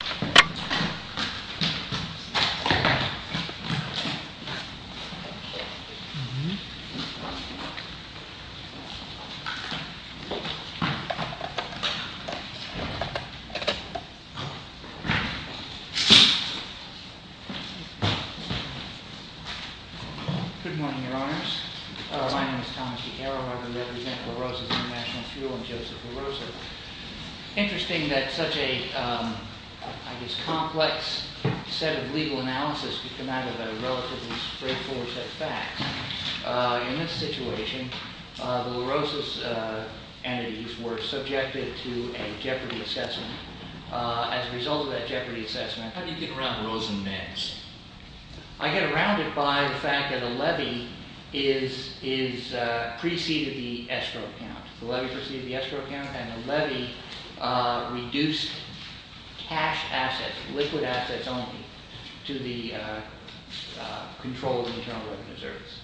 Good morning, Your Honors. My name is Thomas DiCarolo. I represent LaRosa's Intl Fuel and Joseph LaRosa. Interesting that such a, I guess, complex set of legal analysis could come out of a relatively straightforward set of facts. In this situation, the LaRosa's entities were subjected to a Jeopardy assessment. As a result of that Jeopardy assessment... How do you get around Rosenmans? I get around it by the fact that a levy is preceded the escrow account, and a levy reduced cash assets, liquid assets only, to the controls of the Internal Revenue Service.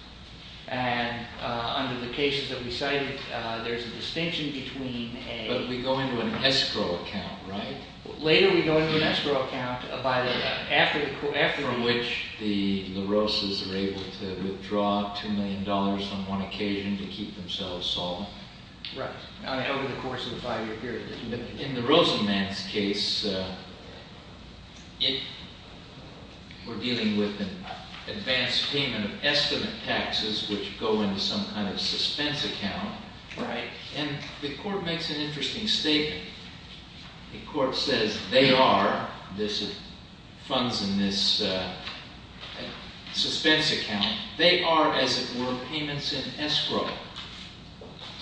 And under the cases that we cited, there's a distinction between a... But we go into an escrow account, right? Later we go into an escrow account by the, after the... From which the LaRosas are able to withdraw $2 million on one occasion to In the Rosenmans case, we're dealing with an advanced payment of estimate taxes which go into some kind of suspense account. And the court makes an interesting statement. The court says they are, this funds in this suspense account, they are, as it were, payments in escrow.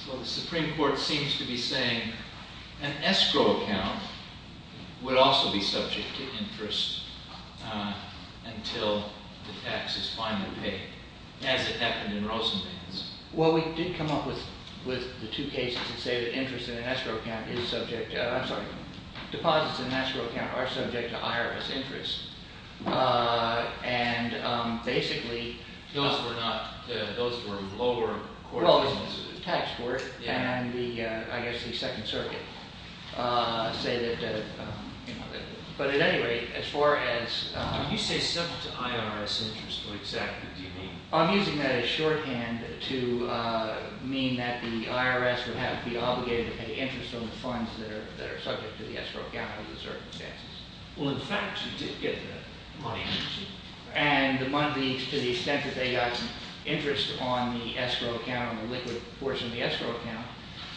So the Supreme Court seems to be saying an escrow account would also be subject to interest until the tax is finally paid, as it happened in Rosenmans. Well, we did come up with the two cases that say that interest in an escrow account is subject to... I'm sorry, deposits in an escrow account are subject to IRS interest. And basically Those were not, those were lower court... Well, the tax court and the, I guess the Second Circuit say that, but at any rate, as far as... When you say subject to IRS interest, what exactly do you mean? I'm using that as shorthand to mean that the IRS would have to be obligated to pay interest on the funds that are subject to the escrow account in certain cases. Well, in fact, you did get the money, didn't you? And the money, to the extent that they got interest on the escrow account, on the liquid portion of the escrow account,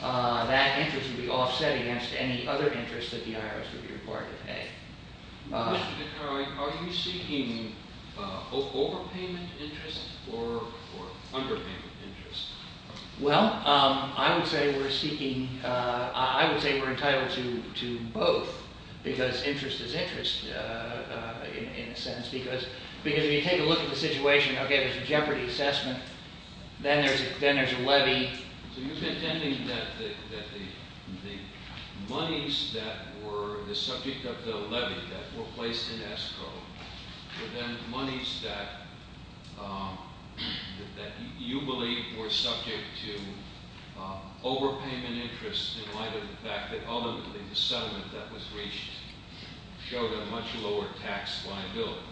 that interest would be offset against any other interest that the IRS would be required to pay. Are you seeking overpayment interest or underpayment interest? Well, I would say we're seeking... I would say we're entitled to both because interest is interest in a sense because if you take a look at the situation, okay, there's a jeopardy assessment, then there's a levy. So you're contending that the monies that were the subject of the levy that were placed in in light of the fact that ultimately the settlement that was reached showed a much lower tax liability.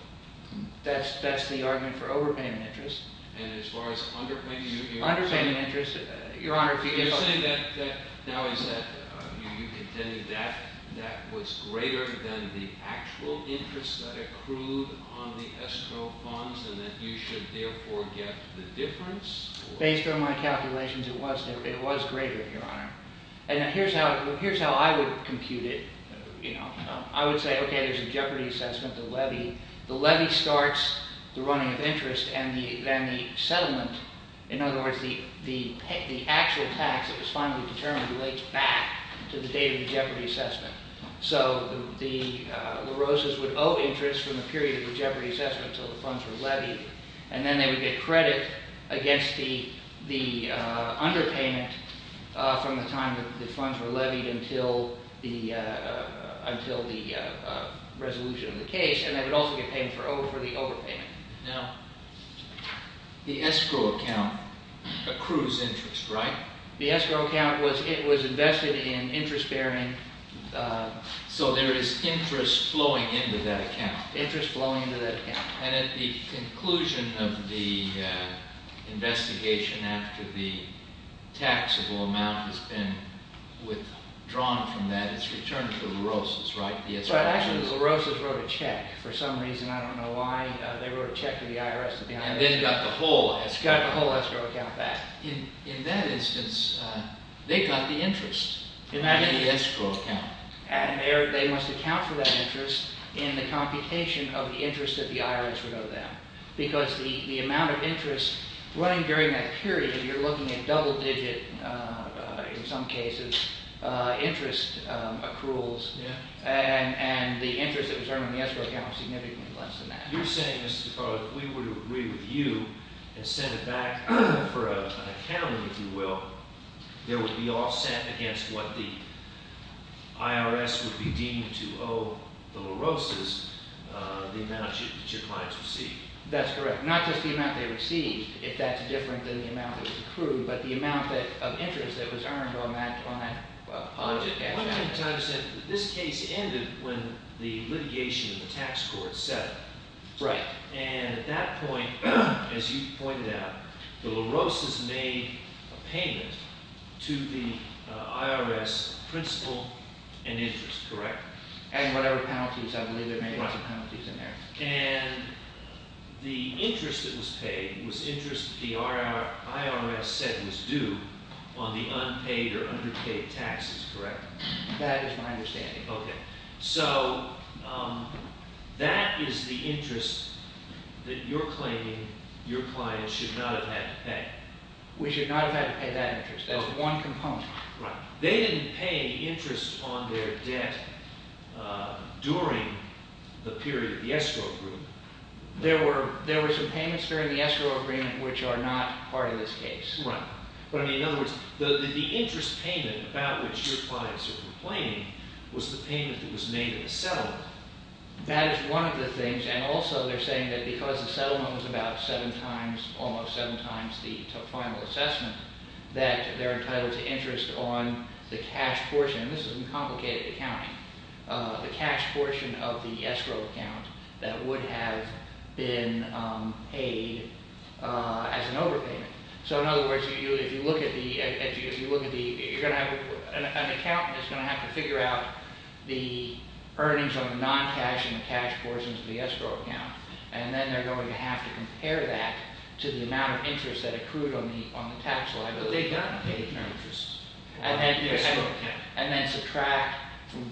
That's the argument for overpayment interest. And as far as underpayment interest... Underpayment interest, Your Honor, if you give us... You're saying that now is that... You're contending that that was greater than the actual interest that accrued on the escrow funds and that you should therefore get the difference? Based on my calculations, it was greater, Your Honor. And here's how I would compute it. I would say, okay, there's a jeopardy assessment, the levy. The levy starts the running of interest and then the settlement, in other words, the actual tax that was finally determined relates back to the date of the jeopardy assessment. So the Rosas would owe interest from the period of the jeopardy assessment until the funds were levied. And then they would get credit against the underpayment from the time that the funds were levied until the resolution of the case. And they would also get paid for the overpayment. Now, the escrow account accrues interest, right? The escrow account was invested in interest-bearing... So there is interest flowing into that account? Interest flowing into that account. And at the conclusion of the investigation after the taxable amount has been withdrawn from that, it's returned to the Rosas, right? But actually, the Rosas wrote a check for some reason. I don't know why they wrote a check to the IRS. And then got the whole escrow account back. In that instance, they got the interest in that escrow account. And they must account for that interest in the computation of the interest that the IRS would owe them. Because the amount of interest running during that period, you're looking at double-digit, in some cases, interest accruals. And the interest that was earned in the escrow account was significantly less than that. You're saying, Mr. DeParle, if we were to agree with you and send it back for an accounting, if you will, there would be offset against what the IRS would be deemed to owe the Rosas, the amount that your clients receive. That's correct. Not just the amount they receive, if that's different than the amount that was accrued, but the amount of interest that was earned on that project. One of the times that this case ended when the litigation in the tax court set up. Right. And at that point, as you pointed out, the Rosas made a payment to the IRS principal and interest, correct? And whatever penalties, I believe there were a bunch of penalties in there. And the interest that was paid was interest that the IRS said was due on the unpaid or that is my understanding. Okay. So that is the interest that you're claiming your clients should not have had to pay. We should not have had to pay that interest. That's one component. Right. They didn't pay interest on their debt during the period of the escrow agreement. There were some payments during the escrow agreement which are not part of this case. Right. But I mean, in other words, the interest payment about which your clients are complaining was the payment that was made in the settlement. That is one of the things. And also they're saying that because the settlement was about seven times, almost seven times the final assessment, that they're entitled to interest on the cash portion. This is a complicated accounting. The cash portion of the escrow account that would have been paid as an overpayment. So, in other words, if you look at the, you're going to have an accountant that's going to have to figure out the earnings on the non-cash and the cash portions of the escrow account. And then they're going to have to compare that to the amount of interest that accrued on the tax liability. But they've done paid interest. And then subtract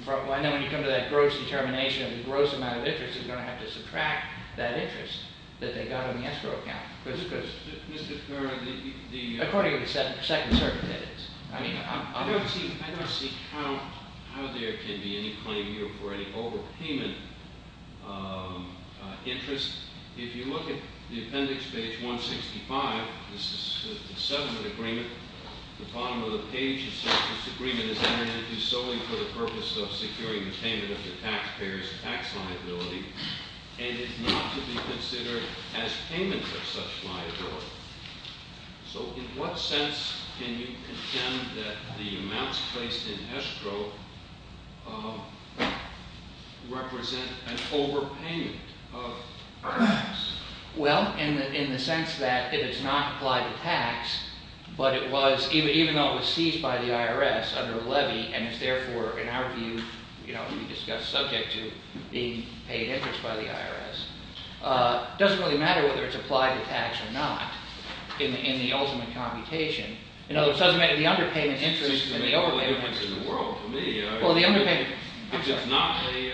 from, and then when you come to that gross determination of the gross amount of interest, you're going to have to subtract that interest that they got on the escrow account. Mr. Kerr, the... According to the Second Circuit, that is. I don't see how there can be any claim here for any overpayment interest. If you look at the appendix page 165, this is the settlement agreement. The bottom of the page says this agreement is entered into solely for the purpose of securing the payment of the taxpayer's tax liability and is not to be considered as payment of such liability. So, in what sense can you contend that the amounts placed in escrow represent an overpayment of tax? Well, in the sense that it is not applied to tax, but it was, even though it was seized by the IRS under a levy, and is therefore, in our view, you know, we discussed, subject to being paid interest by the IRS. It doesn't really matter whether it's applied to tax or not in the ultimate computation. In other words, the underpayment interest is the overpayment interest. Well, the underpayment, I'm sorry.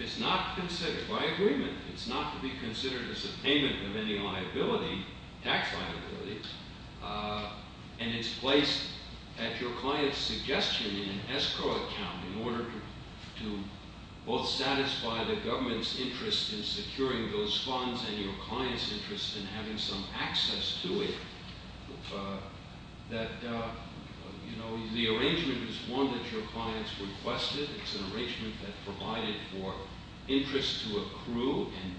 It's not considered by agreement. It's not to be considered as a payment of any liability, tax liability. And it's placed at your client's suggestion in an escrow account in order to both satisfy the government's interest in securing those funds and your client's interest in having some access to it. That, you know, the arrangement is one that your client's requested. It's an arrangement that provided for interest to accrue, and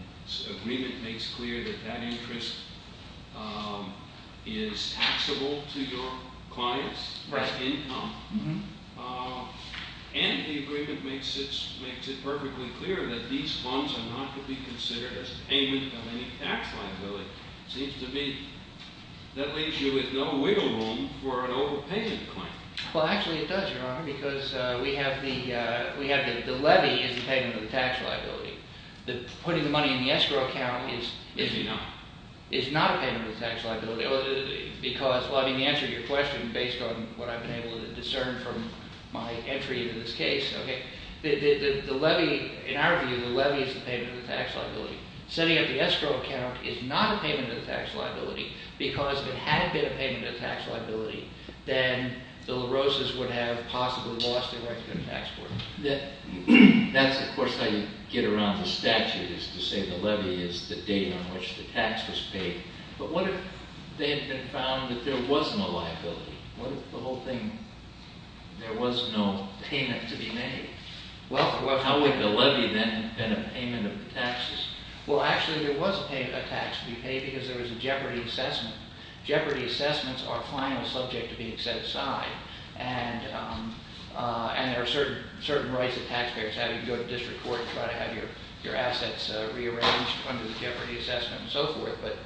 is taxable to your client's income. And the agreement makes it perfectly clear that these funds are not to be considered as payment of any tax liability. It seems to me that leaves you with no wiggle room for an overpayment claim. Well, actually it does, Your Honor, because we have the levy as the payment of the tax liability. Putting the money in the escrow account is not a payment of the tax liability, because, well, I mean, the answer to your question, based on what I've been able to discern from my entry into this case, okay, the levy, in our view, the levy is the payment of the tax liability. Setting up the escrow account is not a payment of the tax liability because if it had been a payment of the tax liability, then the LaRosas would have possibly lost their right to go to tax court. That's, of course, how you get around the statute, is to say the levy is the date on which the tax was paid. But what if they had been found that there was no liability? What if the whole thing, there was no payment to be made? How would the levy then have been a payment of the taxes? Well, actually there was a tax to be paid because there was a jeopardy assessment, so our client was subject to being set aside. And there are certain rights that tax payers have. You can go to district court and try to have your assets rearranged under the jeopardy assessment and so forth. But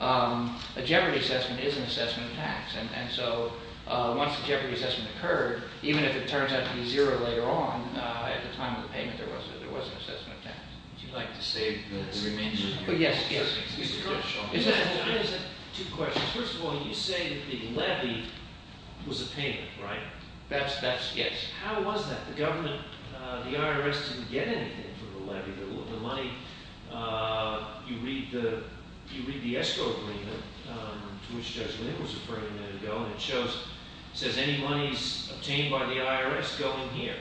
a jeopardy assessment is an assessment of tax. And so, once the jeopardy assessment occurred, even if it turns out to be zero later on, at the time of the payment, there was an assessment of tax. Would you like to save the remainder? Yes, yes. I just have two questions. First of all, you say the levy was a payment, right? That's, yes. How was that? The government, the IRS didn't get anything for the levy. The money, you read the ESCO agreement, to which Judge Lynn was referring a minute ago, and it shows, it says any monies obtained by the IRS go in here.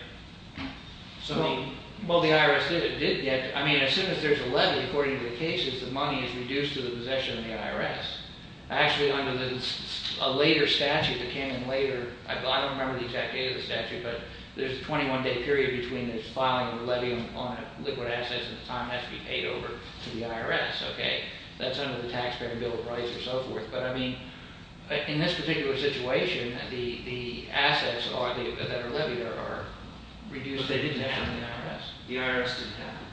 So, well, the IRS did get, I mean, as soon as there's a levy, according to the cases, the money is reduced to the possession of the IRS. Actually, under a later statute that came in later, I don't remember the exact date of the statute, but there's a 21-day period between the filing of the levy on liquid assets and the time it has to be paid over to the IRS. Okay, that's under the Taxpayer Bill of Rights and so forth. But, I mean, in this particular situation, the assets that are in your levy are reduced. But they didn't have them in the IRS. The IRS didn't have them.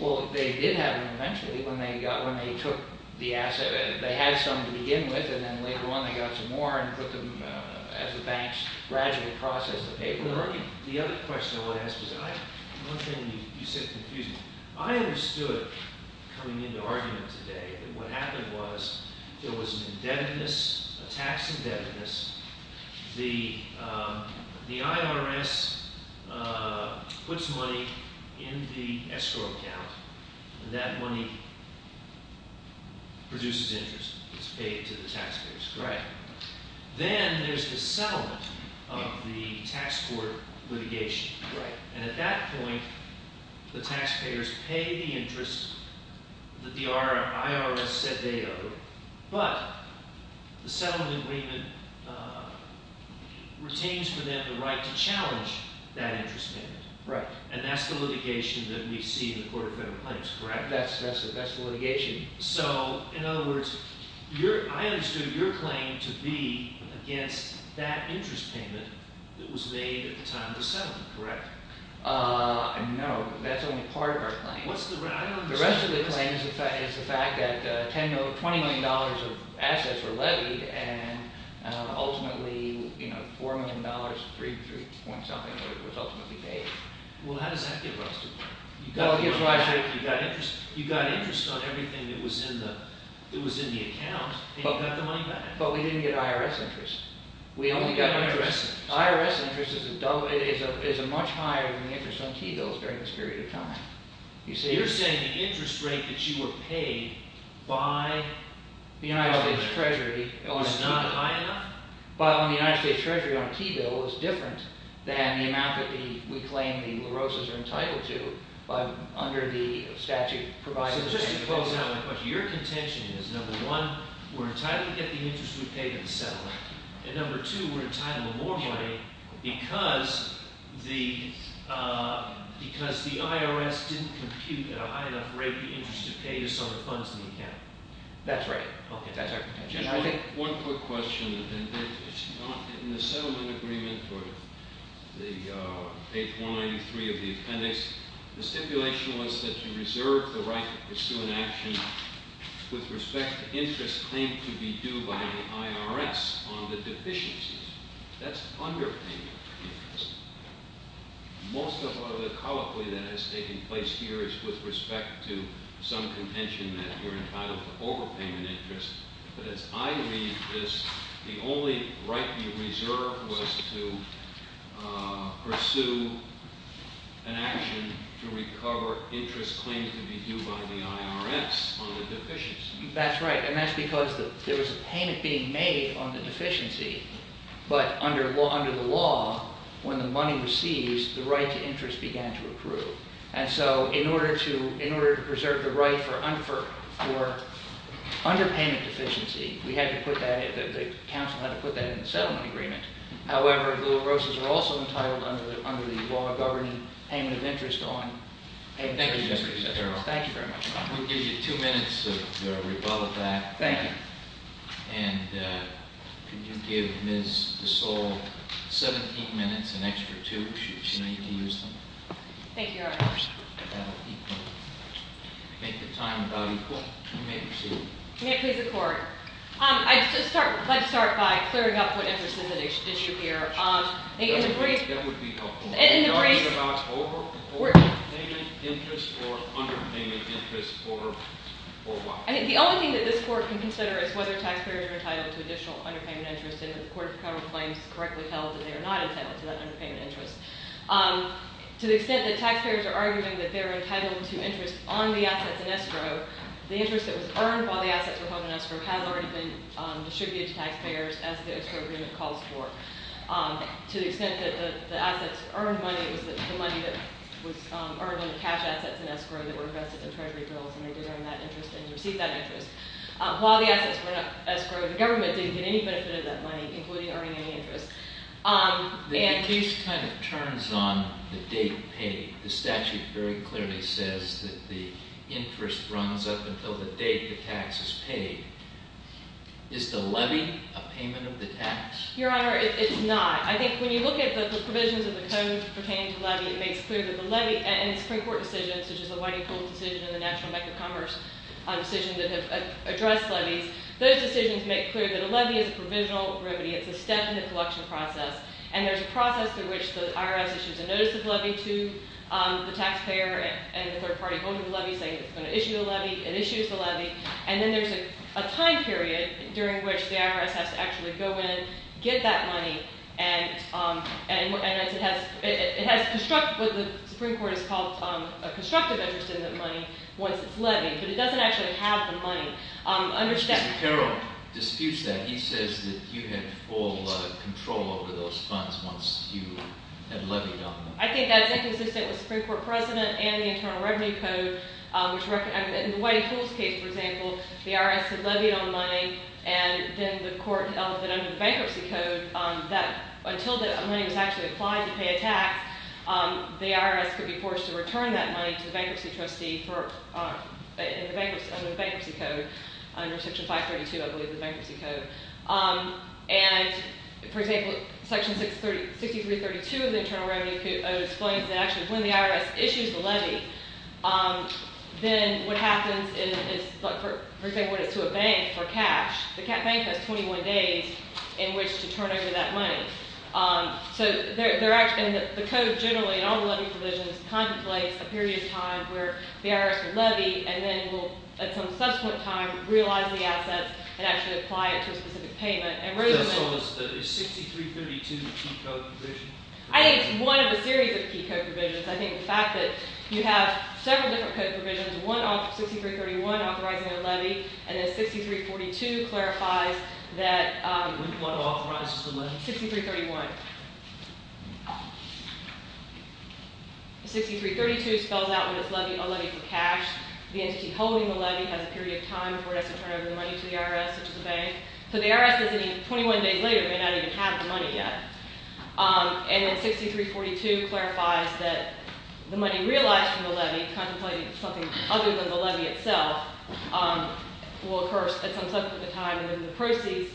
Well, they did have them eventually, when they took the assets. They had some to begin with, and then later on they got some more and put them, as the banks gradually processed the paperwork. The other question I want to ask is, one thing you said confused me. I understood, coming into argument today, that what happened was there was an indebtedness, a tax indebtedness. The IRS puts money in the escrow account, and that money produces interest. It's paid to the taxpayers. Then there's the settlement of the tax court litigation. And at that point, the taxpayers pay the interest that the IRS said they owed, but the settlement agreement retains for them the right to challenge that interest payment. And that's the litigation that we see in the Court of Federal Claims, correct? That's the litigation. So, in other words, I understood your claim to be against that interest payment that was made at the time of the settlement, correct? No, that's only part of our claim. What's the rest of the claim? The rest of the claim is the fact that $20 million of assets were levied, and ultimately $4 million of 3.3 point something was ultimately paid. Well, how does that give rise to the claim? You got interest on everything that was in the account, and you got the money back. But we didn't get IRS interest. We only got IRS interest. IRS interest is much higher than the interest on key bills during this period of time. You're saying the interest rate that you were paid by the IRS was not high enough? But on the United States Treasury, on a key bill, it was different than the amount that we claim the LaRosas are entitled to under the statute provided. So just to close out my question, your contention is, number one, we're entitled to get the interest we paid in the settlement. And number two, we're entitled to more money because the IRS didn't compute at a high enough rate the interest you paid to some of the funds in the account. That's right. Okay. Just one quick question, and it's not in the settlement agreement or the page 193 of the appendix. The stipulation was that you reserve the right to pursue an action with respect to interest claimed to be due by the IRS on the deficiencies. That's underpayment interest. Most of the colloquy that has taken place here is with respect to some contention that you're entitled to overpayment interest. But as I read this, the only right you reserved was to pursue an action to recover interest claimed to be due by the IRS on the deficiencies. That's right. And that's because there was a payment being made on the deficiency, but under the law, when the money was seized, the right to interest began to accrue. And so in order to reserve the right for underpayment deficiency, we had to put that, the council had to put that in the settlement agreement. However, the Rosas are also entitled under the law governing payment of interest on payment of interest. Thank you very much. We'll give you two minutes to rebutt that. Thank you. And can you give Ms. DeSole 17 minutes, an extra two if she needs to use them? Thank you, Your Honor. Make the time about equal. You may proceed. May I please have the court? I'd like to start by clearing up what interest is at issue here. That would be helpful. Is it about overpayment interest or underpayment interest or what? The only thing that this court can consider is whether taxpayers are entitled to additional underpayment interest. And if the court of federal claims correctly held that they are not entitled to that underpayment interest. To the extent that taxpayers are arguing that they're entitled to interest on the assets in escrow, the interest that was earned while the assets were held in escrow has already been distributed to taxpayers as the escrow agreement calls for. To the extent that the assets earned money was the money that was earned on the cash assets in escrow that were vested in treasury bills. And they did earn that interest and received that interest. While the assets were in escrow, the government didn't get any benefit of that money, including earning any interest. The case kind of turns on the date paid. The statute very clearly says that the interest runs up until the date the tax is paid. Is the levy a payment of the tax? Your Honor, it's not. I think when you look at the provisions of the code pertaining to the levy, it makes clear that the levy and Supreme Court decisions, such as the Whiting Pool decision and the National Bank of Commerce decision that have addressed levies, those decisions make clear that a levy is a provisional remedy. It's a step in the collection process. And there's a process through which the IRS issues a notice of levy to the taxpayer and the third party holding the levy saying it's going to issue a levy. It issues the levy. And then there's a time period during which the IRS has to actually go in, get that money, and it has constructed what the Supreme Court has called a constructive interest in that money once it's levied. But it doesn't actually have the money. Mr. Carroll disputes that. He says that you had full control over those funds once you had levied on them. I think that's inconsistent with Supreme Court precedent and the Internal Revenue Code. In the Whiting Pool's case, for example, the IRS had levied on money. And then the court held that under the Bankruptcy Code, until the money was actually applied to pay a tax, the IRS could be forced to return that money to the bankruptcy trustee under the Bankruptcy Code, under Section 532, I believe, the Bankruptcy Code. And, for example, Section 6332 of the Internal Revenue Code explains that actually when the IRS issues the levy, then what happens is, for example, when it's to a bank for cash, the bank has 21 days in which to turn over that money. So the code generally, in all the levy provisions, contemplates a period of time where the IRS would levy and then will, at some subsequent time, realize the assets and actually apply it to a specific payment. Is 6332 a key code provision? I think it's one of a series of key code provisions. I think the fact that you have several different code provisions, one, 6331, authorizing a levy, and then 6342 clarifies that… What authorizes the levy? 6331. 6332 spells out when it's a levy for cash. The entity holding the levy has a period of time before it has to turn over the money to the IRS or to the bank. So the IRS, 21 days later, may not even have the money yet. And then 6342 clarifies that the money realized from the levy, contemplating something other than the levy itself, will occur at some subsequent time, and then the proceeds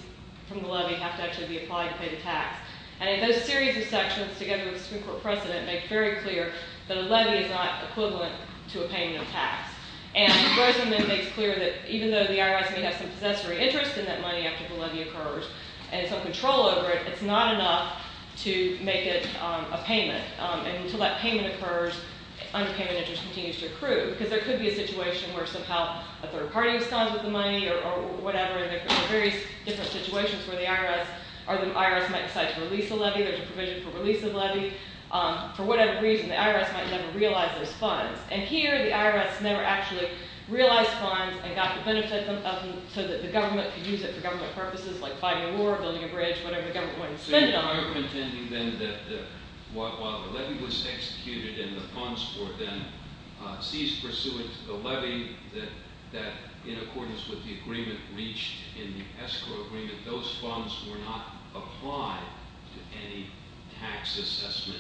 from the levy have to actually be applied to pay the tax. And those series of sections, together with Supreme Court precedent, make very clear that a levy is not equivalent to a payment of tax. And Rosenman makes clear that even though the IRS may have some possessory interest in that money after the levy occurs and some control over it, it's not enough to make it a payment. And until that payment occurs, unpaid interest continues to accrue. Because there could be a situation where somehow a third party was found with the money or whatever, and there could be various different situations where the IRS might decide to release the levy. There's a provision for release of the levy. For whatever reason, the IRS might never realize those funds. And here, the IRS never actually realized funds and got the benefit of them so that the government could use it for government purposes, like fighting a war, building a bridge, whatever the government wanted to spend it on. So you're arguing then that while the levy was executed and the funds were then seized pursuant to the levy that, in accordance with the agreement reached in the escrow agreement, those funds were not applied to any tax assessment.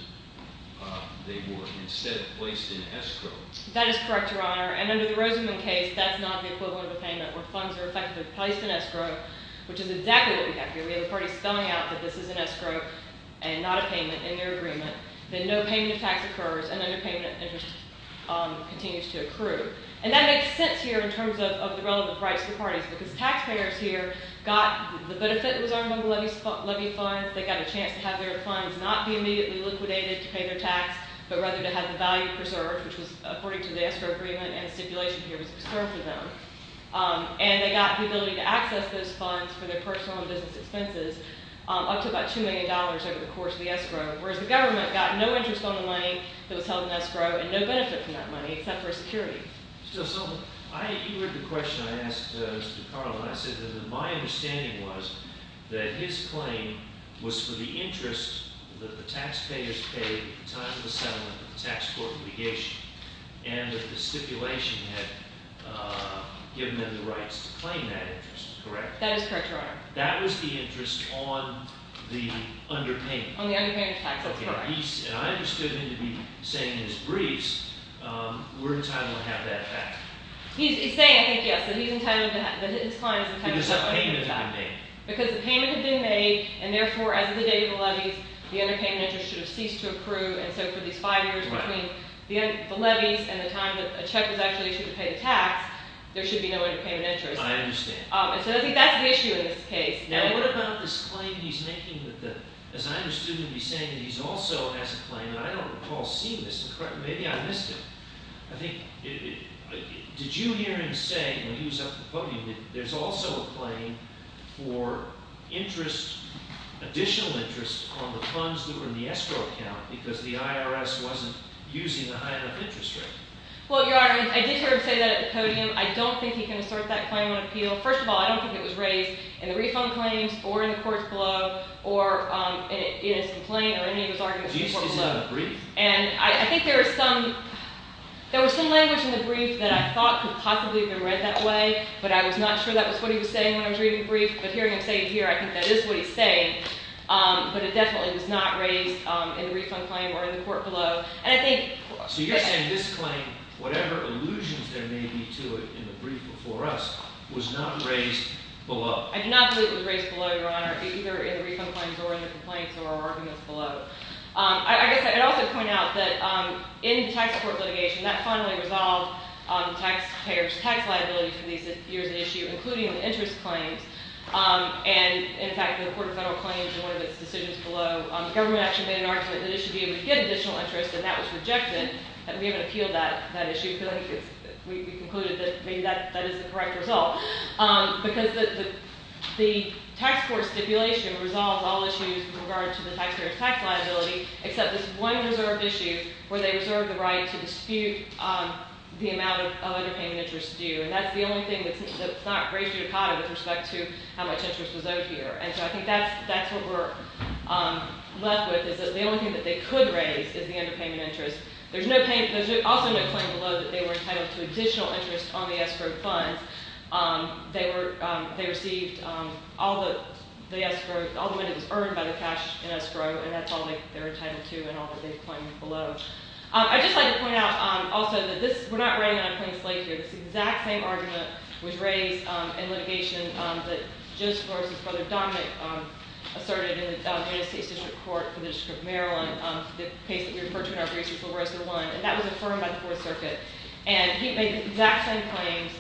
They were instead placed in escrow. That is correct, Your Honor. And under the Rosenman case, that's not the equivalent of a payment, where funds are effectively placed in escrow, which is exactly what we have here. We have the parties spelling out that this is an escrow and not a payment in their agreement. Then no payment of tax occurs, and underpayment continues to accrue. And that makes sense here in terms of the relevant rights for parties, because taxpayers here got the benefit that was earned on the levy funds. They got a chance to have their funds not be immediately liquidated to pay their tax, but rather to have the value preserved, which was according to the escrow agreement and the stipulation here was preserved for them. And they got the ability to access those funds for their personal and business expenses up to about $2 million over the course of the escrow, whereas the government got no interest on the money that was held in escrow and no benefit from that money except for security. You heard the question I asked Mr. Carlin. I said that my understanding was that his claim was for the interest that the taxpayers paid at the time of the settlement, the tax court litigation, and that the stipulation had given them the rights to claim that interest. Correct? That is correct, Your Honor. That was the interest on the underpayment. That's correct. And I understood him to be saying in his briefs, we're entitled to have that back. He's saying, I think, yes, that his claim is entitled to have that back. Because the payment had been made. Because the payment had been made, and therefore, as of the day of the levies, the underpayment interest should have ceased to accrue. And so for these five years between the levies and the time that a check was actually issued to pay the tax, there should be no underpayment interest. I understand. And so that's the issue in this case. Now, what about this claim he's making that the – as I understood him to be saying that he also has a claim, and I don't recall seeing this. Maybe I missed it. I think – did you hear him say when he was up at the podium that there's also a claim for interest, additional interest, on the funds that were in the escrow account because the IRS wasn't using the high enough interest rate? Well, Your Honor, I did hear him say that at the podium. I don't think he can assert that claim on appeal. Well, first of all, I don't think it was raised in the refund claims or in the courts below or in his complaint or any of his arguments in court below. Do you see it in the brief? And I think there was some – there was some language in the brief that I thought could possibly have been read that way, but I was not sure that was what he was saying when I was reading the brief. But hearing him say it here, I think that is what he's saying. But it definitely was not raised in the refund claim or in the court below. And I think – So you're saying this claim, whatever allusions there may be to it in the brief before us, was not raised below? I do not believe it was raised below, Your Honor, either in the refund claims or in the complaints or our arguments below. I guess I could also point out that in the tax court litigation, that finally resolved taxpayers' tax liability for these years of issue, including the interest claims. And, in fact, the Court of Federal Claims in one of its decisions below, the government actually made an argument that it should be able to get additional interest, and that was rejected. We haven't appealed that issue because I think it's – we concluded that maybe that is the correct result. Because the tax court stipulation resolves all issues with regard to the taxpayers' tax liability except this one reserved issue where they reserve the right to dispute the amount of underpayment interest due. And that's the only thing that's not raised here in COTA with respect to how much interest was owed here. And so I think that's what we're left with is that the only thing that they could raise is the underpayment interest. There's no – there's also no claim below that they were entitled to additional interest on the escrow funds. They received all the escrow – all the money that was earned by the cash in escrow, and that's all they're entitled to in all that they've claimed below. I'd just like to point out also that this – we're not writing it on plain slate here. This exact same argument was raised in litigation that Judge Flores' brother, Dominic, asserted in the United States District Court for the District of Maryland, the case that we referred to in our briefs before. And that was affirmed by the Fourth Circuit. And he made the exact same claims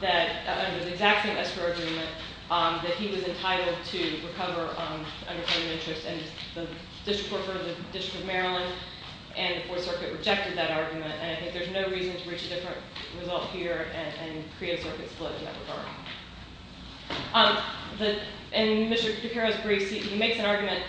that – under the exact same escrow argument that he was entitled to recover underpayment interest. And the District Court for the District of Maryland and the Fourth Circuit rejected that argument. And I think there's no reason to reach a different result here and create a circuit split in that regard. In Mr. DeCaro's brief, he makes an argument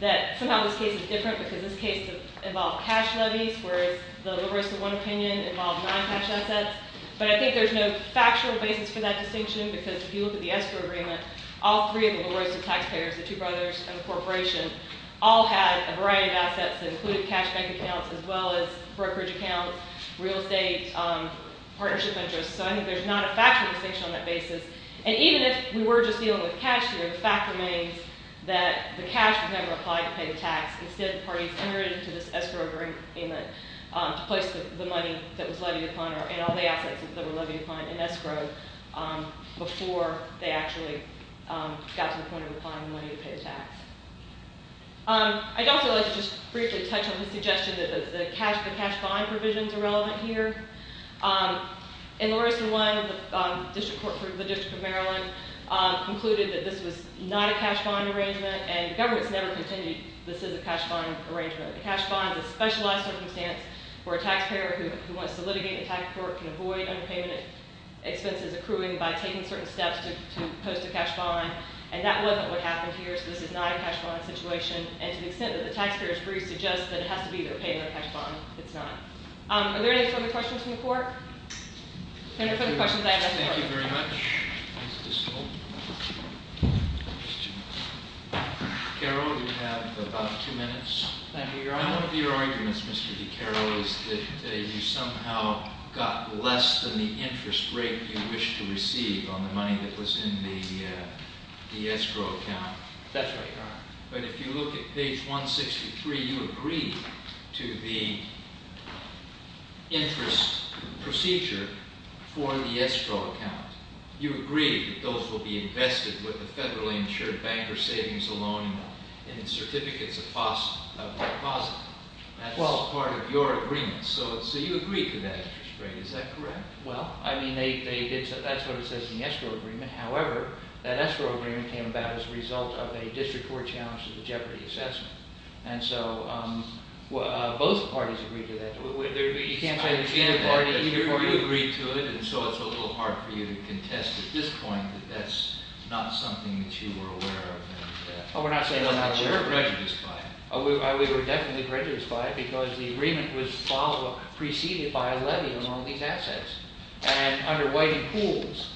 that somehow this case is different because this case involved cash levies, whereas the La Rosa One opinion involved non-cash assets. But I think there's no factual basis for that distinction because if you look at the escrow agreement, all three of the La Rosa taxpayers, the two brothers and the corporation, all had a variety of assets that included cash bank accounts as well as brokerage accounts, real estate, partnership interest. So I think there's not a factual distinction on that basis. And even if we were just dealing with cash here, the fact remains that the cash was never applied to pay the tax. Instead, the parties entered into this escrow agreement to place the money that was levied upon and all the assets that were levied upon in escrow before they actually got to the point of applying the money to pay the tax. I'd also like to just briefly touch on the suggestion that the cash bond provisions are relevant here. In La Rosa One, the district court for the District of Maryland concluded that this was not a cash bond arrangement, and the government has never contended this is a cash bond arrangement. A cash bond is a specialized circumstance where a taxpayer who wants to litigate a tax report can avoid underpayment expenses accruing by taking certain steps to post a cash bond. And that wasn't what happened here, so this is not a cash bond situation. And to the extent that the taxpayer's brief suggests that it has to be either a payment or a cash bond, it's not. Are there any further questions from the court? Senator, further questions? I have a question. Thank you very much. Carol, you have about two minutes. Thank you, Your Honor. One of your arguments, Mr. DiCaro, is that you somehow got less than the interest rate you wished to receive on the money that was in the escrow account. That's right, Your Honor. But if you look at page 163, you agree to the interest procedure for the escrow account. You agree that those will be invested with the federally insured banker savings alone in certificates of deposit. That's part of your agreement. So you agree to that interest rate. Is that correct? Well, I mean, that's what it says in the escrow agreement. However, that escrow agreement came about as a result of a district court challenge to the Jeopardy assessment. And so both parties agreed to that. You can't say that you didn't agree to it, and so it's a little hard for you to contest at this point that that's not something that you were aware of. Oh, we're not saying we're not aware of it. You were prejudiced by it. We were definitely prejudiced by it because the agreement was preceded by a levy on all these assets. And under Whiting-Pooles,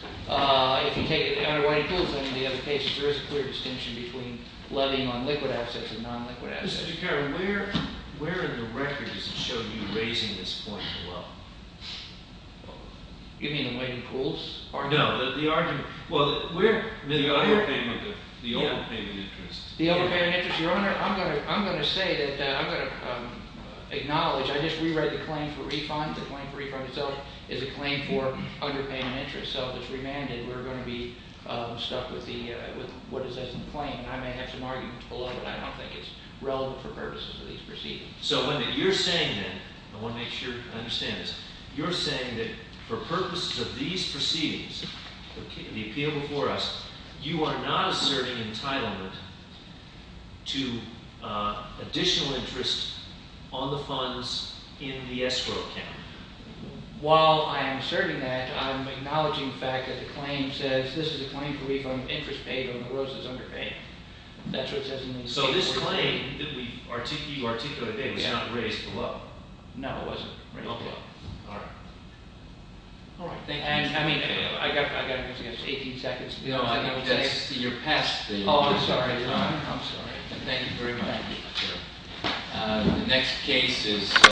if you take it under Whiting-Pooles and any of the other cases, there is a clear distinction between levying on liquid assets and non-liquid assets. Mr. Caron, where in the record does it show you raising this point below? You mean in Whiting-Pooles? No, the argument – well, the overpayment interest. The overpayment interest. Your Honor, I'm going to say that I'm going to acknowledge – I just rewrote the claim for refund. The claim for refund itself is a claim for underpayment interest. So if it's remanded, we're going to be stuck with what is in the claim. And I may have some arguments below, but I don't think it's relevant for purposes of these proceedings. So what you're saying then – I want to make sure I understand this – you're saying that for purposes of these proceedings, the appeal before us, you are not asserting entitlement to additional interest on the funds in the escrow account. While I am asserting that, I'm acknowledging the fact that the claim says this is a claim for refund of interest paid on the roses underpaid. So this claim that you articulated today was not raised below? No, it wasn't raised below. All right. All right. Thank you. And, I mean, I've got 18 seconds. No, I think that's – you're past the – Oh, I'm sorry. Thank you very much. Thank you. The next case is –